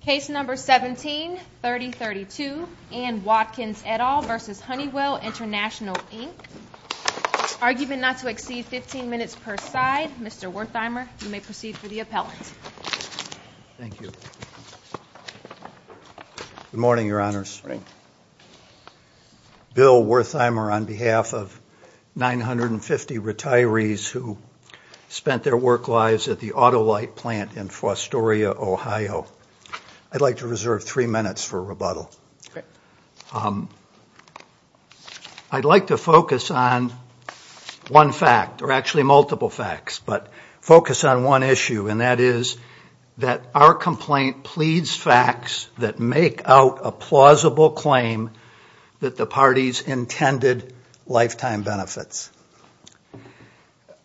Case number 17-3032, Ann Watkins et al. v. Honeywell International Inc. Argument not to exceed 15 minutes per side. Mr. Wertheimer, you may proceed for the appellant. Thank you. Good morning, Your Honors. Good morning. My name is Bill Wertheimer on behalf of 950 retirees who spent their work lives at the Autolite plant in Fostoria, Ohio. I'd like to reserve three minutes for rebuttal. I'd like to focus on one fact, or actually multiple facts, but focus on one issue, and that is that our complaint pleads facts that make out a plausible claim that the parties intended lifetime benefits.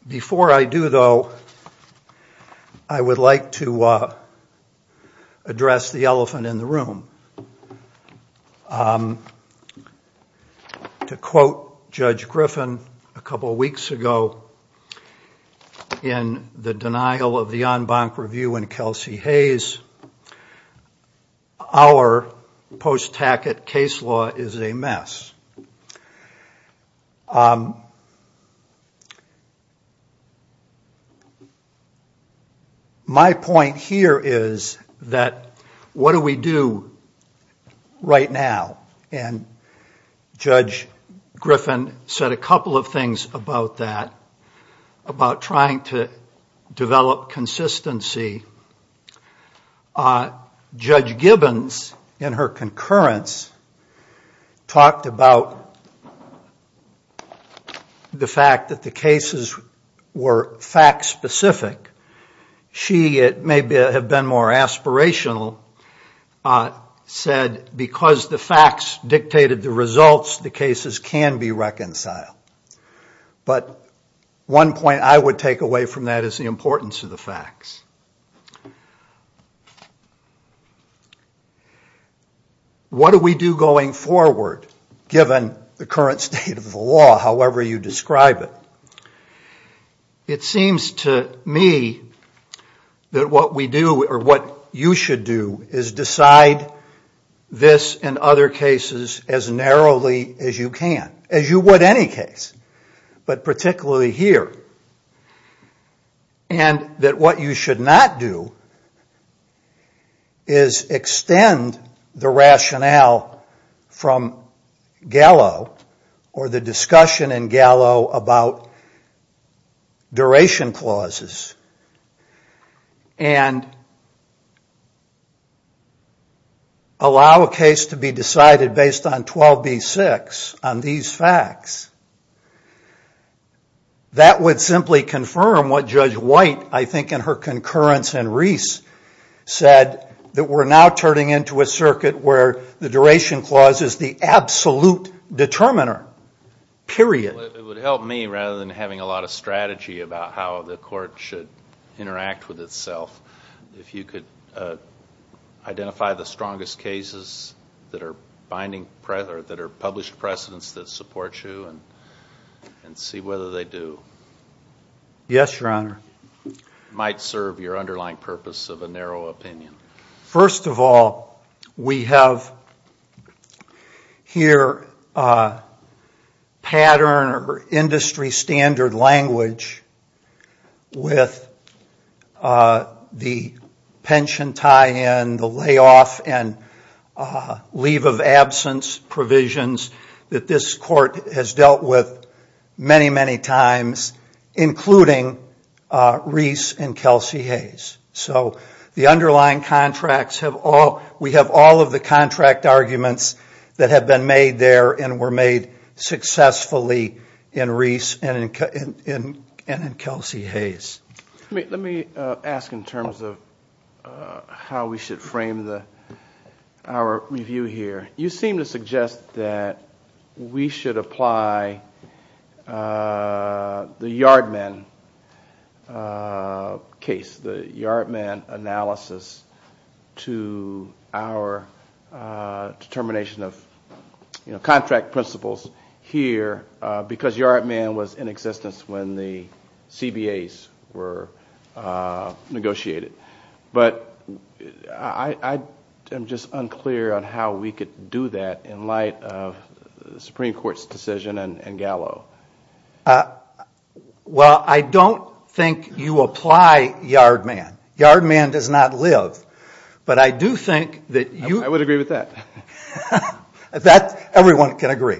Before I do, though, I would like to address the elephant in the room. To quote Judge Griffin a couple weeks ago in the denial of the en banc review in Kelsey Hayes, our post-Tackett case law is a mess. My point here is that what do we do right now? And Judge Griffin said a couple of things about that, about trying to develop consistency. Judge Gibbons, in her concurrence, talked about the fact that the cases were fact-specific. She, it may have been more aspirational, said because the facts dictated the results, the cases can be reconciled. But one point I would take away from that is the importance of the facts. What do we do going forward, given the current state of the law, however you describe it? It seems to me that what we do, or what you should do, is decide this and other cases as narrowly as you can. As you would any case, but particularly here. And that what you should not do is extend the rationale from Gallo, or the discussion in Gallo about duration clauses. And allow a case to be decided based on 12B6, on these facts. That would simply confirm what Judge White, I think in her concurrence in Reese, said that we're now turning into a circuit where the duration clause is the absolute determiner. Period. It would help me, rather than having a lot of strategy about how the court should interact with itself, if you could identify the strongest cases that are published precedents that support you and see whether they do. Yes, Your Honor. Might serve your underlying purpose of a narrow opinion. First of all, we have here pattern or industry standard language with the pension tie-in, the layoff and leave of absence provisions that this court has dealt with many, many times. Including Reese and Kelsey Hayes. So the underlying contracts have all, we have all of the contract arguments that have been made there and were made successfully in Reese and in Kelsey Hayes. Let me ask in terms of how we should frame our review here. You seem to suggest that we should apply the Yardmen case, the Yardmen analysis to our determination of contract principles here because Yardmen was in existence when the CBAs were negotiated. But I'm just unclear on how we could do that in light of the Supreme Court's decision and Gallo. Well, I don't think you apply Yardmen. Yardmen does not live. But I do think that you... I would agree with that. Everyone can agree.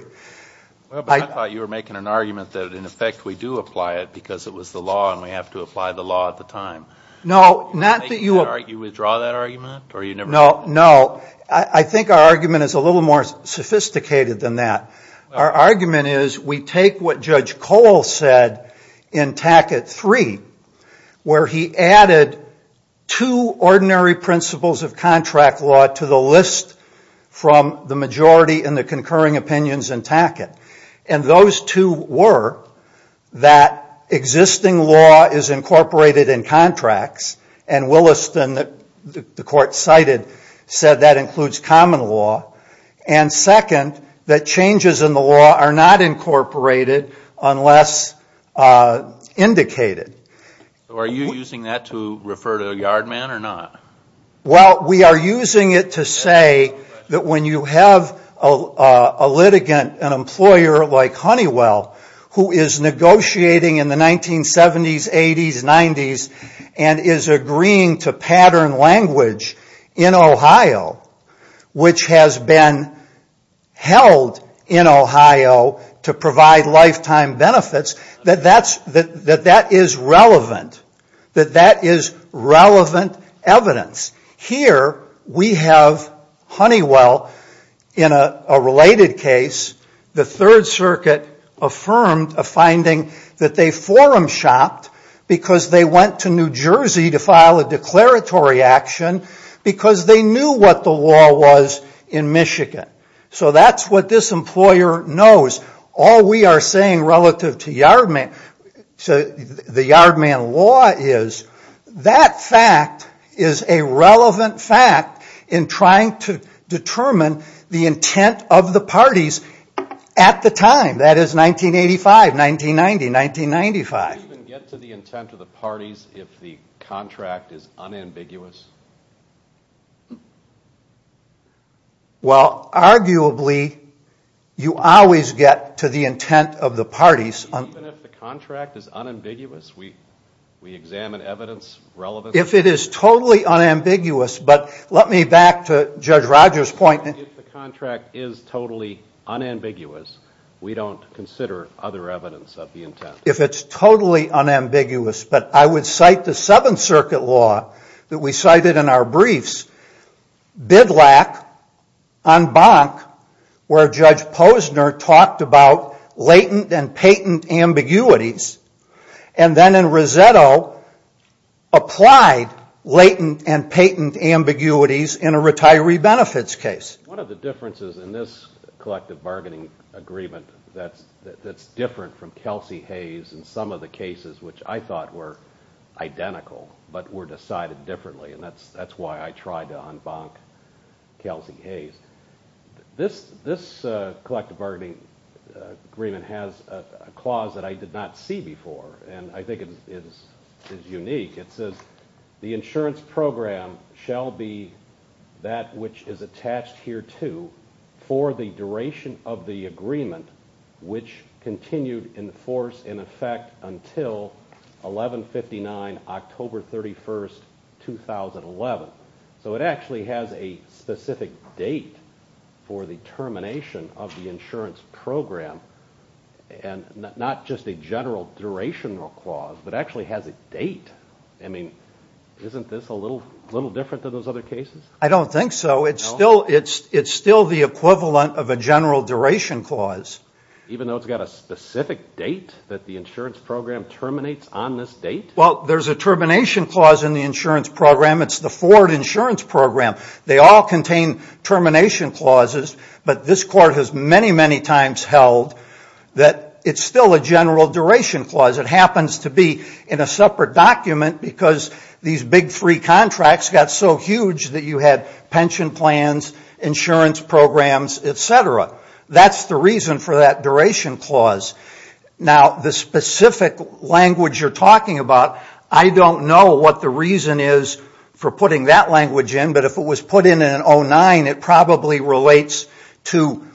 I thought you were making an argument that in effect we do apply it because it was the law and we have to apply the law at the time. No, not that you... You withdraw that argument? No, no. I think our argument is a little more sophisticated than that. Our argument is we take what Judge Cole said in Tackett 3 where he added two ordinary principles of contract law to the list from the majority and the concurring opinions in Tackett. And those two were that existing law is incorporated in contracts and Williston, the court cited, said that includes common law and second, that changes in the law are not incorporated unless indicated. So are you using that to refer to Yardmen or not? Well, we are using it to say that when you have a litigant, an employer like Honeywell who is negotiating in the 1970s, 80s, 90s and is agreeing to pattern language in Ohio, which has been held in Ohio to provide lifetime benefits, that that is relevant, that that is relevant evidence. Here we have Honeywell in a related case. The Third Circuit affirmed a finding that they forum shopped because they went to New Jersey to file a declaratory action because they knew what the law was in Michigan. So that's what this employer knows. All we are saying relative to the Yardmen law is that fact is a relevant fact in trying to determine the intent of the parties at the time. That is 1985, 1990, 1995. Do you even get to the intent of the parties if the contract is unambiguous? Well, arguably you always get to the intent of the parties. Even if the contract is unambiguous, we examine evidence relevant? If it is totally unambiguous, but let me back to Judge Rogers' point. If the contract is totally unambiguous, we don't consider other evidence of the intent. If it's totally unambiguous, but I would cite the Seventh Circuit law that we cited in our briefs. Bidlack on Bonk where Judge Posner talked about latent and patent ambiguities and then in Rossetto applied latent and patent ambiguities in a retiree benefits case. One of the differences in this collective bargaining agreement that's different from Kelsey Hayes in some of the cases which I thought were identical but were decided differently, and that's why I tried to unbonk Kelsey Hayes. This collective bargaining agreement has a clause that I did not see before and I think it is unique. It says, the insurance program shall be that which is attached hereto for the duration of the agreement which continued in force in effect until 1159, October 31, 2011. So it actually has a specific date for the termination of the insurance program and not just a general duration clause, but actually has a date. I mean, isn't this a little different than those other cases? I don't think so. It's still the equivalent of a general duration clause. Even though it's got a specific date that the insurance program terminates on this date? Well, there's a termination clause in the insurance program. It's the forward insurance program. They all contain termination clauses, but this court has many, many times held that it's still a general duration clause. It happens to be in a separate document because these big free contracts got so huge that you had pension plans, insurance programs, et cetera. That's the reason for that duration clause. Now, the specific language you're talking about, I don't know what the reason is for putting that language in, but if it was put in in 09, it probably relates to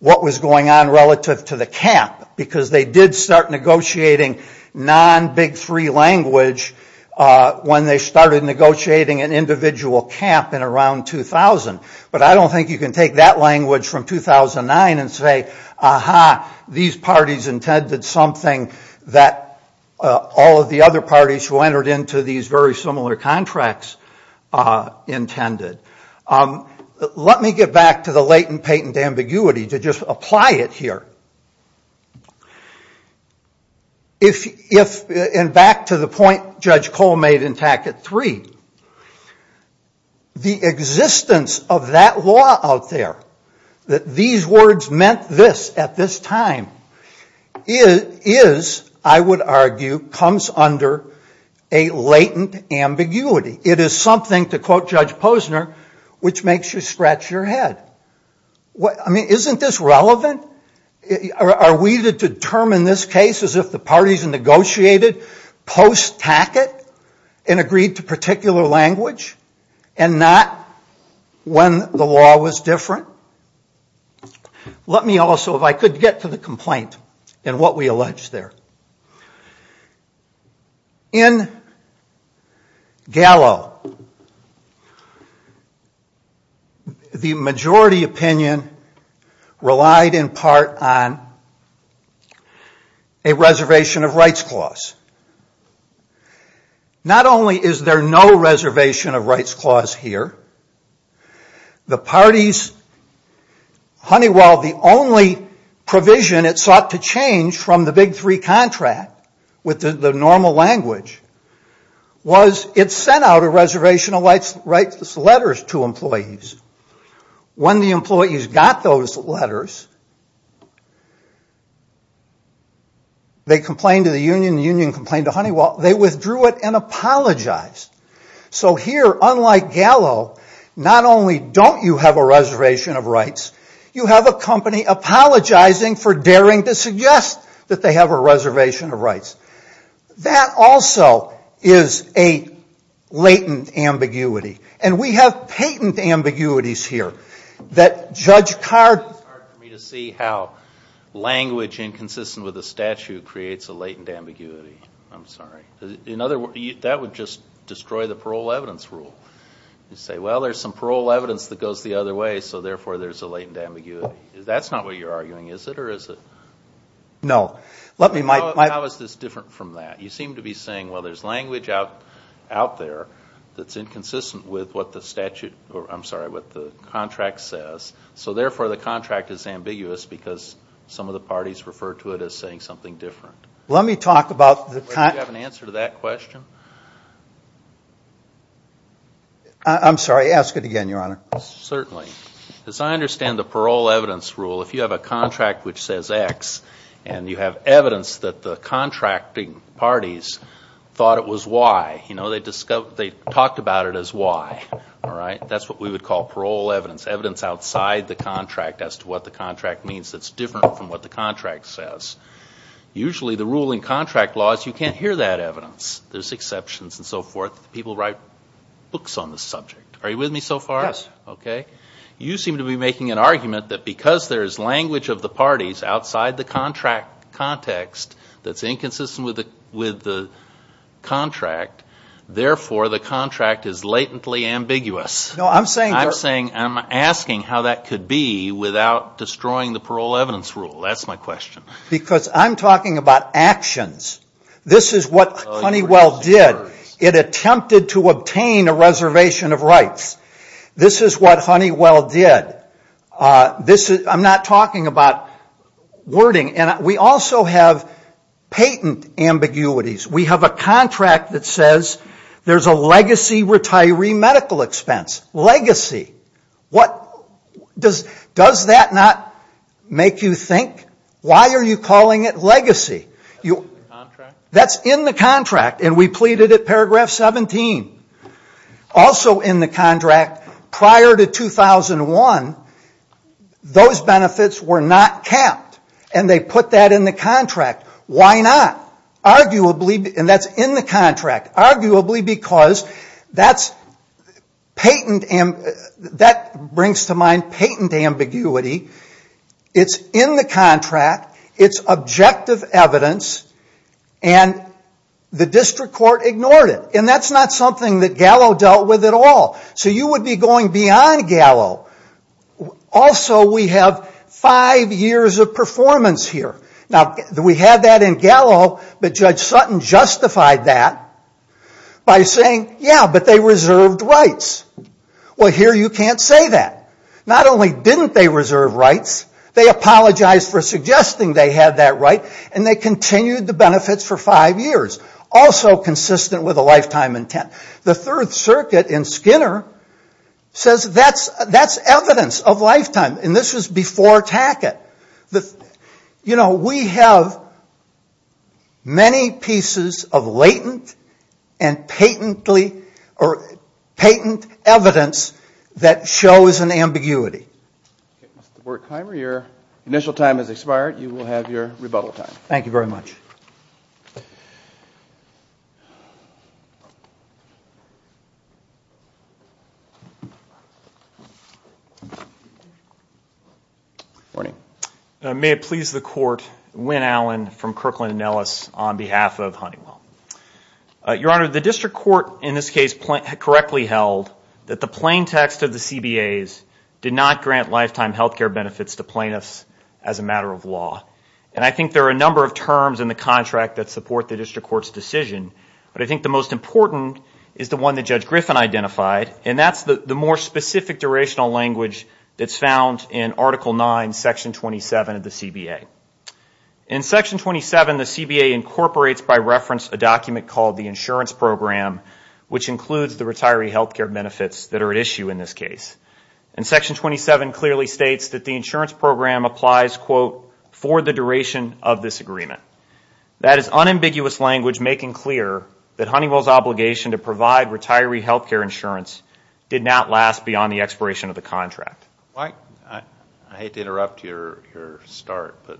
what was going on relative to the cap because they did start negotiating non-Big Three language when they started negotiating an individual cap in around 2000. But I don't think you can take that language from 2009 and say, aha, these parties intended something that all of the other parties who entered into these very similar contracts intended. Let me get back to the latent patent ambiguity to just apply it here. If, and back to the point Judge Cole made in Tackett 3, the existence of that law out there, that these words meant this at this time, is, I would argue, comes under a latent ambiguity. It is something, to quote Judge Posner, which makes you scratch your head. Isn't this relevant? Are we to determine this case as if the parties negotiated post-Tackett and agreed to particular language and not when the law was different? Let me also, if I could, get to the complaint and what we allege there. In Gallo, the majority opinion relied in part on a reservation of rights clause. Not only is there no reservation of rights clause here, the parties, Honeywell, the only provision it sought to change from the Big Three contract with the normal language was it sent out a reservation of rights letters to employees. When the employees got those letters, they complained to the union, the union complained to Honeywell, they withdrew it and apologized. So here, unlike Gallo, not only don't you have a reservation of rights, you have a company apologizing for daring to suggest that they have a reservation of rights. That also is a latent ambiguity. And we have patent ambiguities here that Judge Cardin... It's hard for me to see how language inconsistent with a statute creates a latent ambiguity. I'm sorry. In other words, that would just destroy the parole evidence rule. You say, well, there's some parole evidence that goes the other way, so therefore there's a latent ambiguity. That's not what you're arguing, is it, or is it? No. How is this different from that? You seem to be saying, well, there's language out there that's inconsistent with what the statute or, I'm sorry, what the contract says, so therefore the contract is ambiguous because some of the parties refer to it as saying something different. Let me talk about the... Do you have an answer to that question? I'm sorry, ask it again, Your Honor. Certainly. As I understand the parole evidence rule, if you have a contract which says X and you have evidence that the contracting parties thought it was Y, you know, they talked about it as Y, all right? That's what we would call parole evidence, evidence outside the contract as to what the contract means that's different from what the contract says. Usually the ruling contract laws, you can't hear that evidence. There's exceptions and so forth. People write books on the subject. Are you with me so far? Yes. Okay. You seem to be making an argument that because there is language of the parties outside the contract context that's inconsistent with the contract, therefore the contract is latently ambiguous. No, I'm saying... I'm asking how that could be without destroying the parole evidence rule. That's my question. Because I'm talking about actions. This is what Honeywell did. It attempted to obtain a reservation of rights. This is what Honeywell did. I'm not talking about wording. We also have patent ambiguities. We have a contract that says there's a legacy retiree medical expense. Legacy. Does that not make you think? Why are you calling it legacy? That's in the contract. And we pleaded it paragraph 17. Also in the contract, prior to 2001, those benefits were not capped. And they put that in the contract. Why not? Arguably, and that's in the contract. Arguably because that brings to mind patent ambiguity. It's in the contract. It's objective evidence. And the district court ignored it. And that's not something that Gallo dealt with at all. So you would be going beyond Gallo. Also, we have five years of performance here. Now, we had that in Gallo, but Judge Sutton justified that by saying, yeah, but they reserved rights. Well, here you can't say that. Not only didn't they reserve rights, they apologized for suggesting they had that right, and they continued the benefits for five years, also consistent with a lifetime intent. The Third Circuit in Skinner says that's evidence of lifetime. And this was before Tackett. You know, we have many pieces of latent and patent evidence that shows an ambiguity. Mr. Borkheimer, your initial time has expired. You will have your rebuttal time. Thank you very much. Good morning. May it please the Court, Wynn Allen from Kirkland & Ellis on behalf of Huntingwell. Your Honor, the district court in this case correctly held that the plain text of the CBAs did not grant lifetime health care benefits to plaintiffs as a matter of law. And I think there are a number of terms in the contract that support the district court's decision, but I think the most important is the one that Judge Griffin identified, and that's the more specific durational language that's found in Article 9, Section 27 of the CBA. In Section 27, the CBA incorporates by reference a document called the insurance program, which includes the retiree health care benefits that are at issue in this case. And Section 27 clearly states that the insurance program applies, quote, for the duration of this agreement. That is unambiguous language making clear that Huntingwell's obligation to provide retiree health care insurance did not last beyond the expiration of the contract. I hate to interrupt your start, but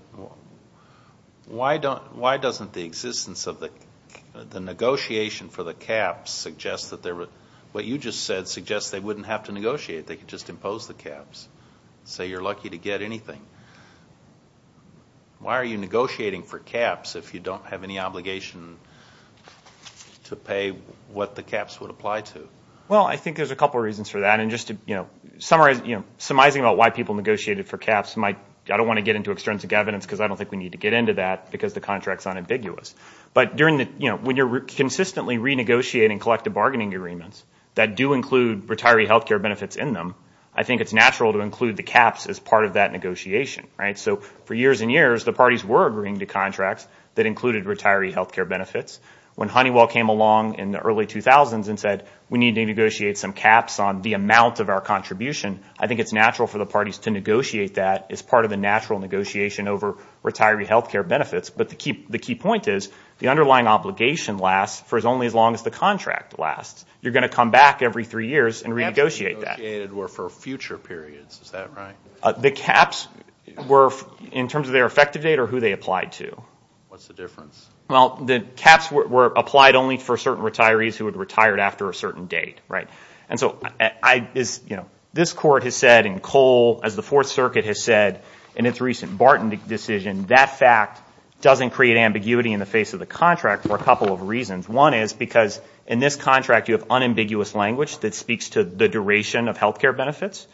why doesn't the existence of the negotiation for the caps suggest that what you just said suggests they wouldn't have to negotiate, they could just impose the caps, say you're lucky to get anything. Why are you negotiating for caps if you don't have any obligation to pay what the caps would apply to? Well, I think there's a couple of reasons for that. Summarizing about why people negotiated for caps, I don't want to get into extrinsic evidence because I don't think we need to get into that because the contract is unambiguous. But when you're consistently renegotiating collective bargaining agreements that do include retiree health care benefits in them, I think it's natural to include the caps as part of that negotiation. So for years and years, the parties were agreeing to contracts that included retiree health care benefits. When Honeywell came along in the early 2000s and said we need to negotiate some caps on the amount of our contribution, I think it's natural for the parties to negotiate that as part of the natural negotiation over retiree health care benefits. But the key point is the underlying obligation lasts for only as long as the contract lasts. You're going to come back every three years and renegotiate that. The caps negotiated were for future periods, is that right? The caps were in terms of their effective date or who they applied to. What's the difference? Well, the caps were applied only for certain retirees who had retired after a certain date. And so this court has said in Cole, as the Fourth Circuit has said in its recent Barton decision, that fact doesn't create ambiguity in the face of the contract for a couple of reasons. One is because in this contract you have unambiguous language that speaks to the duration of health care benefits.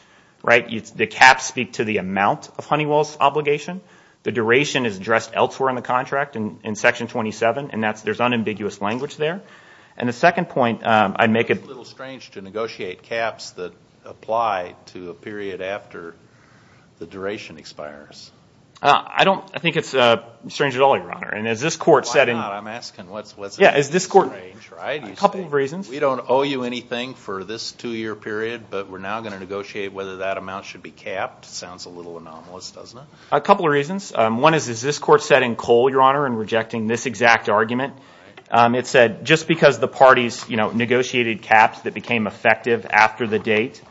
The caps speak to the amount of Honeywell's obligation. The duration is addressed elsewhere in the contract in Section 27, and there's unambiguous language there. And the second point, I'd make it a little strange to negotiate caps that apply to a period after the duration expires. I don't think it's strange at all, Your Honor. Why not? I'm asking what's strange, right? A couple of reasons. We don't owe you anything for this two-year period, but we're now going to negotiate whether that amount should be capped. Sounds a little anomalous, doesn't it? A couple of reasons. One is, as this court said in Cole, Your Honor, in rejecting this exact argument, it said just because the parties negotiated caps that became effective after the date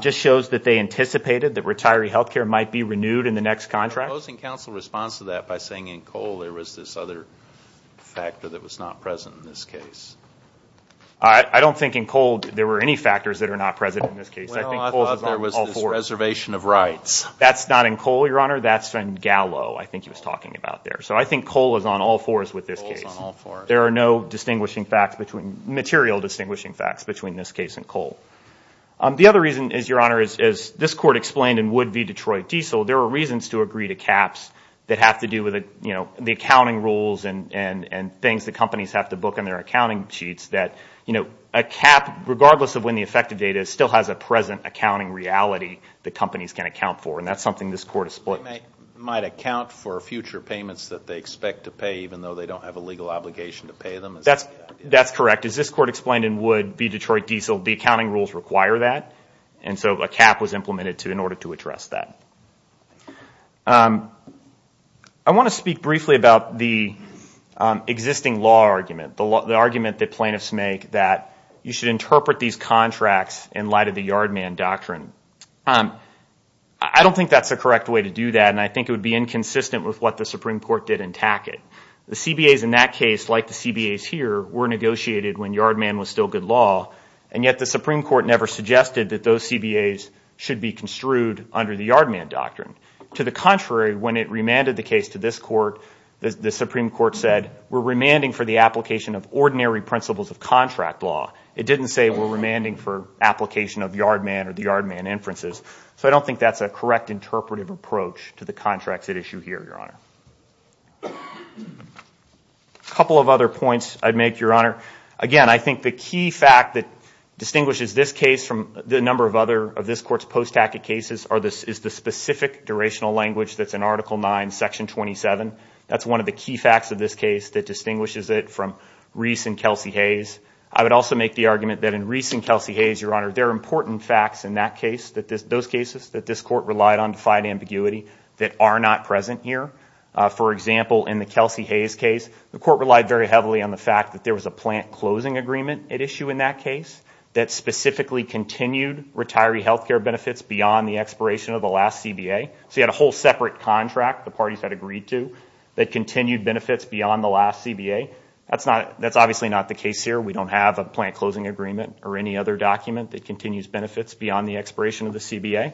just shows that they anticipated that retiree health care might be renewed in the next contract. I'm opposing counsel's response to that by saying in Cole there was this other factor that was not present in this case. I don't think in Cole there were any factors that are not present in this case. Well, I thought there was this reservation of rights. That's not in Cole, Your Honor. That's in Gallo, I think he was talking about there. So I think Cole is on all fours with this case. Cole is on all fours. There are no material distinguishing facts between this case and Cole. The other reason is, Your Honor, as this court explained in Wood v. Detroit Diesel, there are reasons to agree to caps that have to do with the accounting rules and things that companies have to book on their accounting sheets that a cap, regardless of when the effective date is, still has a present accounting reality that companies can account for, and that's something this court has split. It might account for future payments that they expect to pay even though they don't have a legal obligation to pay them? That's correct. As this court explained in Wood v. Detroit Diesel, the accounting rules require that, and so a cap was implemented in order to address that. I want to speak briefly about the existing law argument, the argument that plaintiffs make that you should interpret these contracts in light of the yard man doctrine. I don't think that's the correct way to do that, and I think it would be inconsistent with what the Supreme Court did in Tackett. The CBAs in that case, like the CBAs here, were negotiated when yard man was still good law, and yet the Supreme Court never suggested that those CBAs should be construed under the yard man doctrine. To the contrary, when it remanded the case to this court, the Supreme Court said we're remanding for the application of ordinary principles of contract law. It didn't say we're remanding for application of yard man or the yard man inferences, so I don't think that's a correct interpretive approach to the contracts at issue here, Your Honor. A couple of other points I'd make, Your Honor. Again, I think the key fact that distinguishes this case from the number of other of this court's post-Tackett cases is the specific durational language that's in Article 9, Section 27. That's one of the key facts of this case that distinguishes it from Reese and Kelsey Hayes. I would also make the argument that in Reese and Kelsey Hayes, Your Honor, there are important facts in those cases that this court relied on to fight ambiguity that are not present here. For example, in the Kelsey Hayes case, the court relied very heavily on the fact that there was a plant closing agreement at issue in that case that specifically continued retiree health care benefits beyond the expiration of the last CBA. So you had a whole separate contract the parties had agreed to that continued benefits beyond the last CBA. That's obviously not the case here. We don't have a plant closing agreement or any other document that continues benefits beyond the expiration of the CBA.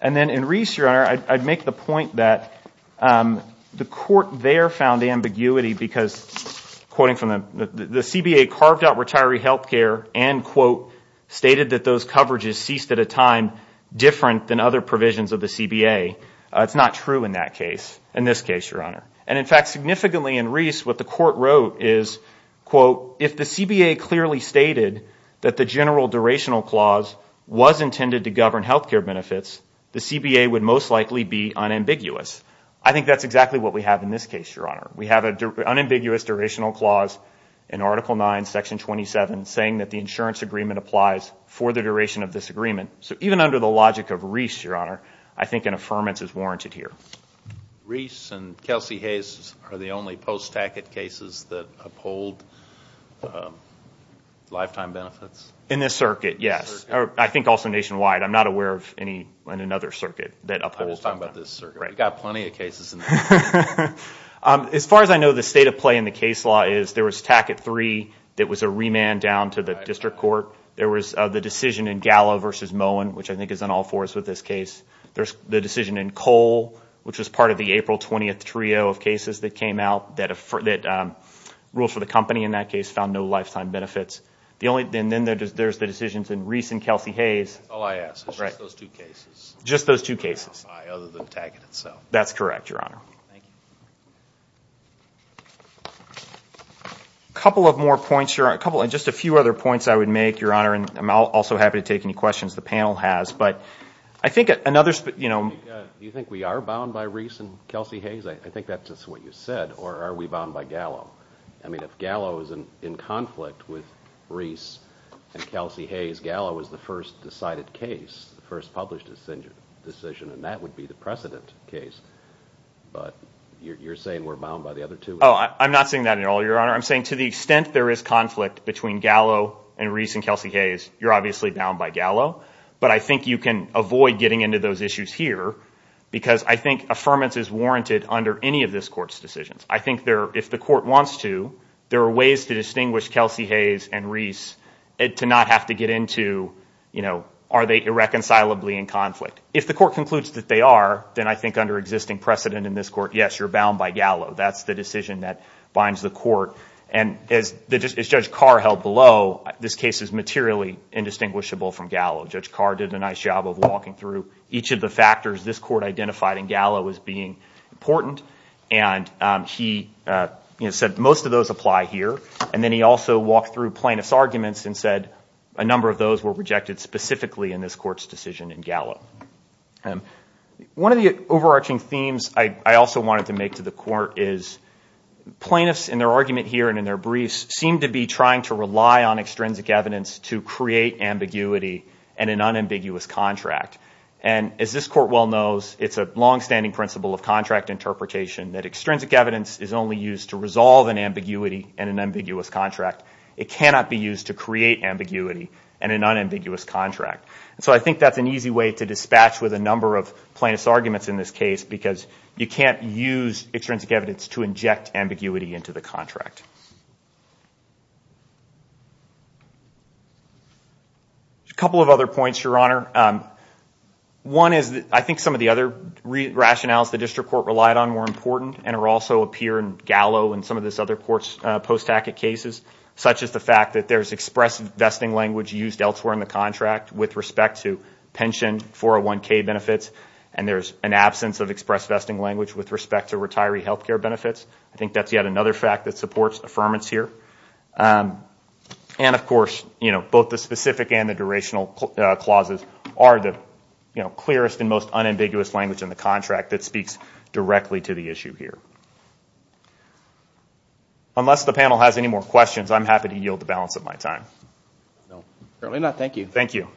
And then in Reese, Your Honor, I'd make the point that the court there found ambiguity because, quoting from the, the CBA carved out retiree health care and, quote, stated that those coverages ceased at a time different than other provisions of the CBA. It's not true in that case, in this case, Your Honor. And in fact, significantly in Reese, what the court wrote is, quote, if the CBA clearly stated that the general durational clause was intended to govern health care benefits, the CBA would most likely be unambiguous. I think that's exactly what we have in this case, Your Honor. We have an unambiguous durational clause in Article IX, Section 27, saying that the insurance agreement applies for the duration of this agreement. So even under the logic of Reese, Your Honor, I think an affirmance is warranted here. Reese and Kelsey Hayes are the only post-TACIT cases that uphold lifetime benefits? In this circuit, yes. I think also nationwide. I'm not aware of any in another circuit that upholds that. We've got plenty of cases in this circuit. As far as I know, the state of play in the case law is there was TACIT III that was a remand down to the district court. There was the decision in Gallo v. Moen, which I think is on all fours with this case. There's the decision in Cole, which was part of the April 20th trio of cases that came out that ruled for the company in that case, found no lifetime benefits. And then there's the decisions in Reese and Kelsey Hayes. All I ask is just those two cases. Just those two cases. Other than TACIT itself. That's correct, Your Honor. A couple of more points. Just a few other points I would make, Your Honor, and I'm also happy to take any questions the panel has. Do you think we are bound by Reese and Kelsey Hayes? I think that's just what you said. Or are we bound by Gallo? I mean, if Gallo is in conflict with Reese and Kelsey Hayes, Gallo is the first decided case, the first published decision, and that would be the precedent case. But you're saying we're bound by the other two? Oh, I'm not saying that at all, Your Honor. I'm saying to the extent there is conflict between Gallo and Reese and Kelsey Hayes, you're obviously bound by Gallo. But I think you can avoid getting into those issues here, because I think affirmance is warranted under any of this Court's decisions. I think if the Court wants to, there are ways to distinguish Kelsey Hayes and Reese to not have to get into are they irreconcilably in conflict. If the Court concludes that they are, then I think under existing precedent in this Court, yes, you're bound by Gallo. That's the decision that binds the Court. And as Judge Carr held below, this case is materially indistinguishable from Gallo. Judge Carr did a nice job of walking through each of the factors this Court identified in Gallo as being important, and he said most of those apply here. And then he also walked through plaintiff's arguments and said a number of those were rejected specifically in this Court's decision in Gallo. One of the overarching themes I also wanted to make to the Court is plaintiffs in their argument here and in their briefs seem to be trying to rely on extrinsic evidence to create ambiguity in an unambiguous contract. And as this Court well knows, it's a longstanding principle of contract interpretation that extrinsic evidence is only used to resolve an ambiguity in an ambiguous contract. It cannot be used to create ambiguity in an unambiguous contract. So I think that's an easy way to dispatch with a number of plaintiff's arguments in this case because you can't use extrinsic evidence to inject ambiguity into the contract. A couple of other points, Your Honor. One is I think some of the other rationales the District Court relied on were important and also appear in Gallo and some of this other Court's post-tacket cases, such as the fact that there's express vesting language used elsewhere in the contract with respect to pension 401k benefits, and there's an absence of express vesting language with respect to retiree health care benefits. I think that's yet another fact that supports affirmance here. And, of course, both the specific and the durational clauses are the clearest and most unambiguous language in the contract that speaks directly to the issue here. Unless the panel has any more questions, I'm happy to yield the balance of my time. No, certainly not. Thank you. Thank you.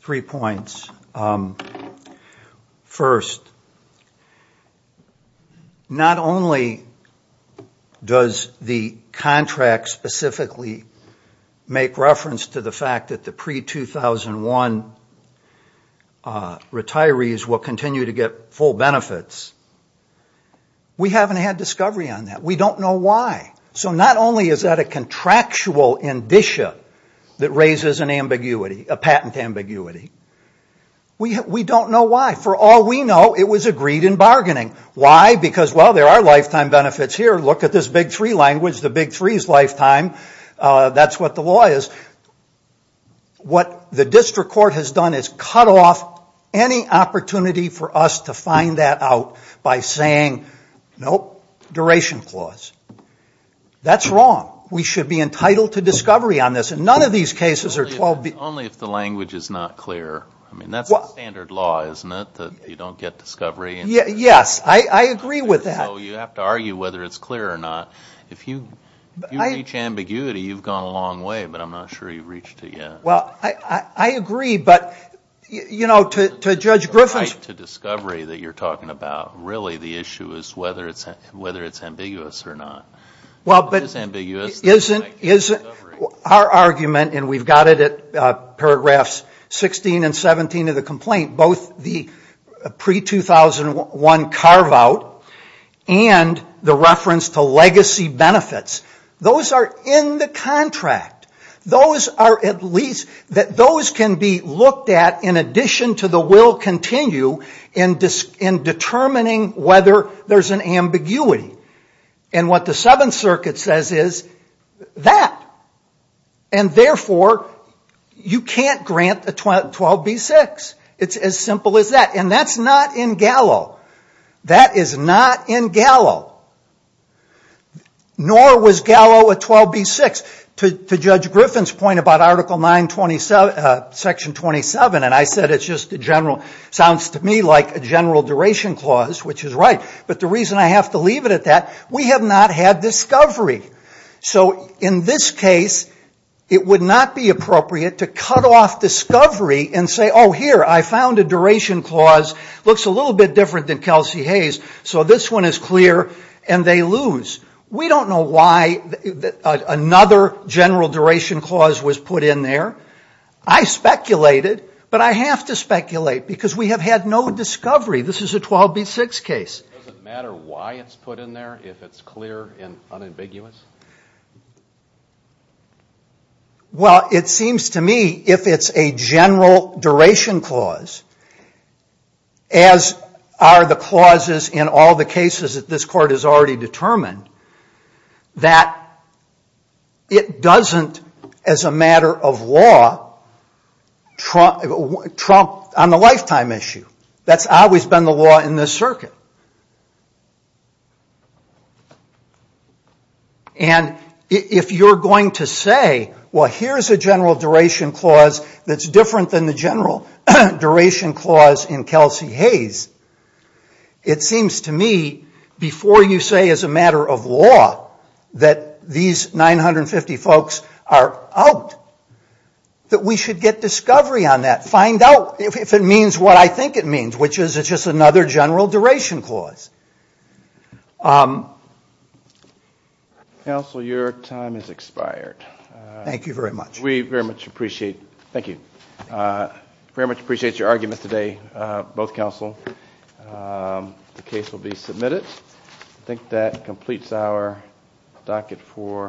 Three points. First, not only does the contract specifically make reference to the fact that the pre-2001 retirees will continue to get full benefits, we haven't had discovery on that. We don't know why. So not only is that a contractual indicia that raises an ambiguity, a patent ambiguity, we don't know why. For all we know, it was agreed in bargaining. Why? Because, well, there are lifetime benefits here. Look at this Big Three language, the Big Three's lifetime. That's what the law is. What the District Court has done is cut off any opportunity for us to find that out by saying, nope, duration clause. That's wrong. We should be entitled to discovery on this. And none of these cases are 12- Only if the language is not clear. I mean, that's the standard law, isn't it, that you don't get discovery? Yes, I agree with that. So you have to argue whether it's clear or not. If you reach ambiguity, you've gone a long way, but I'm not sure you've reached it yet. Well, I agree, but, you know, to Judge Griffin's The right to discovery that you're talking about, really, the issue is whether it's ambiguous or not. Well, but- It is ambiguous. Our argument, and we've got it at paragraphs 16 and 17 of the complaint, both the pre-2001 carve-out and the reference to legacy benefits, those are in the contract. Those are at least- Those can be looked at in addition to the will continue in determining whether there's an ambiguity. And what the Seventh Circuit says is that. And therefore, you can't grant a 12b-6. It's as simple as that. And that's not in Gallo. That is not in Gallo. Nor was Gallo a 12b-6. To Judge Griffin's point about Article 9, Section 27, and I said it just sounds to me like a general duration clause, which is right. But the reason I have to leave it at that, we have not had discovery. So in this case, it would not be appropriate to cut off discovery and say, oh, here, I found a duration clause, looks a little bit different than Kelsey Hayes, so this one is clear, and they lose. We don't know why another general duration clause was put in there. I speculated, but I have to speculate because we have had no discovery. This is a 12b-6 case. Does it matter why it's put in there if it's clear and unambiguous? Well, it seems to me if it's a general duration clause, as are the clauses in all the cases that this court has already determined, that it doesn't, as a matter of law, trump on the lifetime issue. That's always been the law in this circuit. And if you're going to say, well, here's a general duration clause that's different than the general duration clause in Kelsey Hayes, it seems to me, before you say as a matter of law, that these 950 folks are out, that we should get discovery on that, find out if it means what I think it means, which is it's just another general duration clause. Counsel, your time has expired. Thank you very much. We very much appreciate it. Thank you. We very much appreciate your arguments today, both counsel. The case will be submitted. I think that completes our docket for today.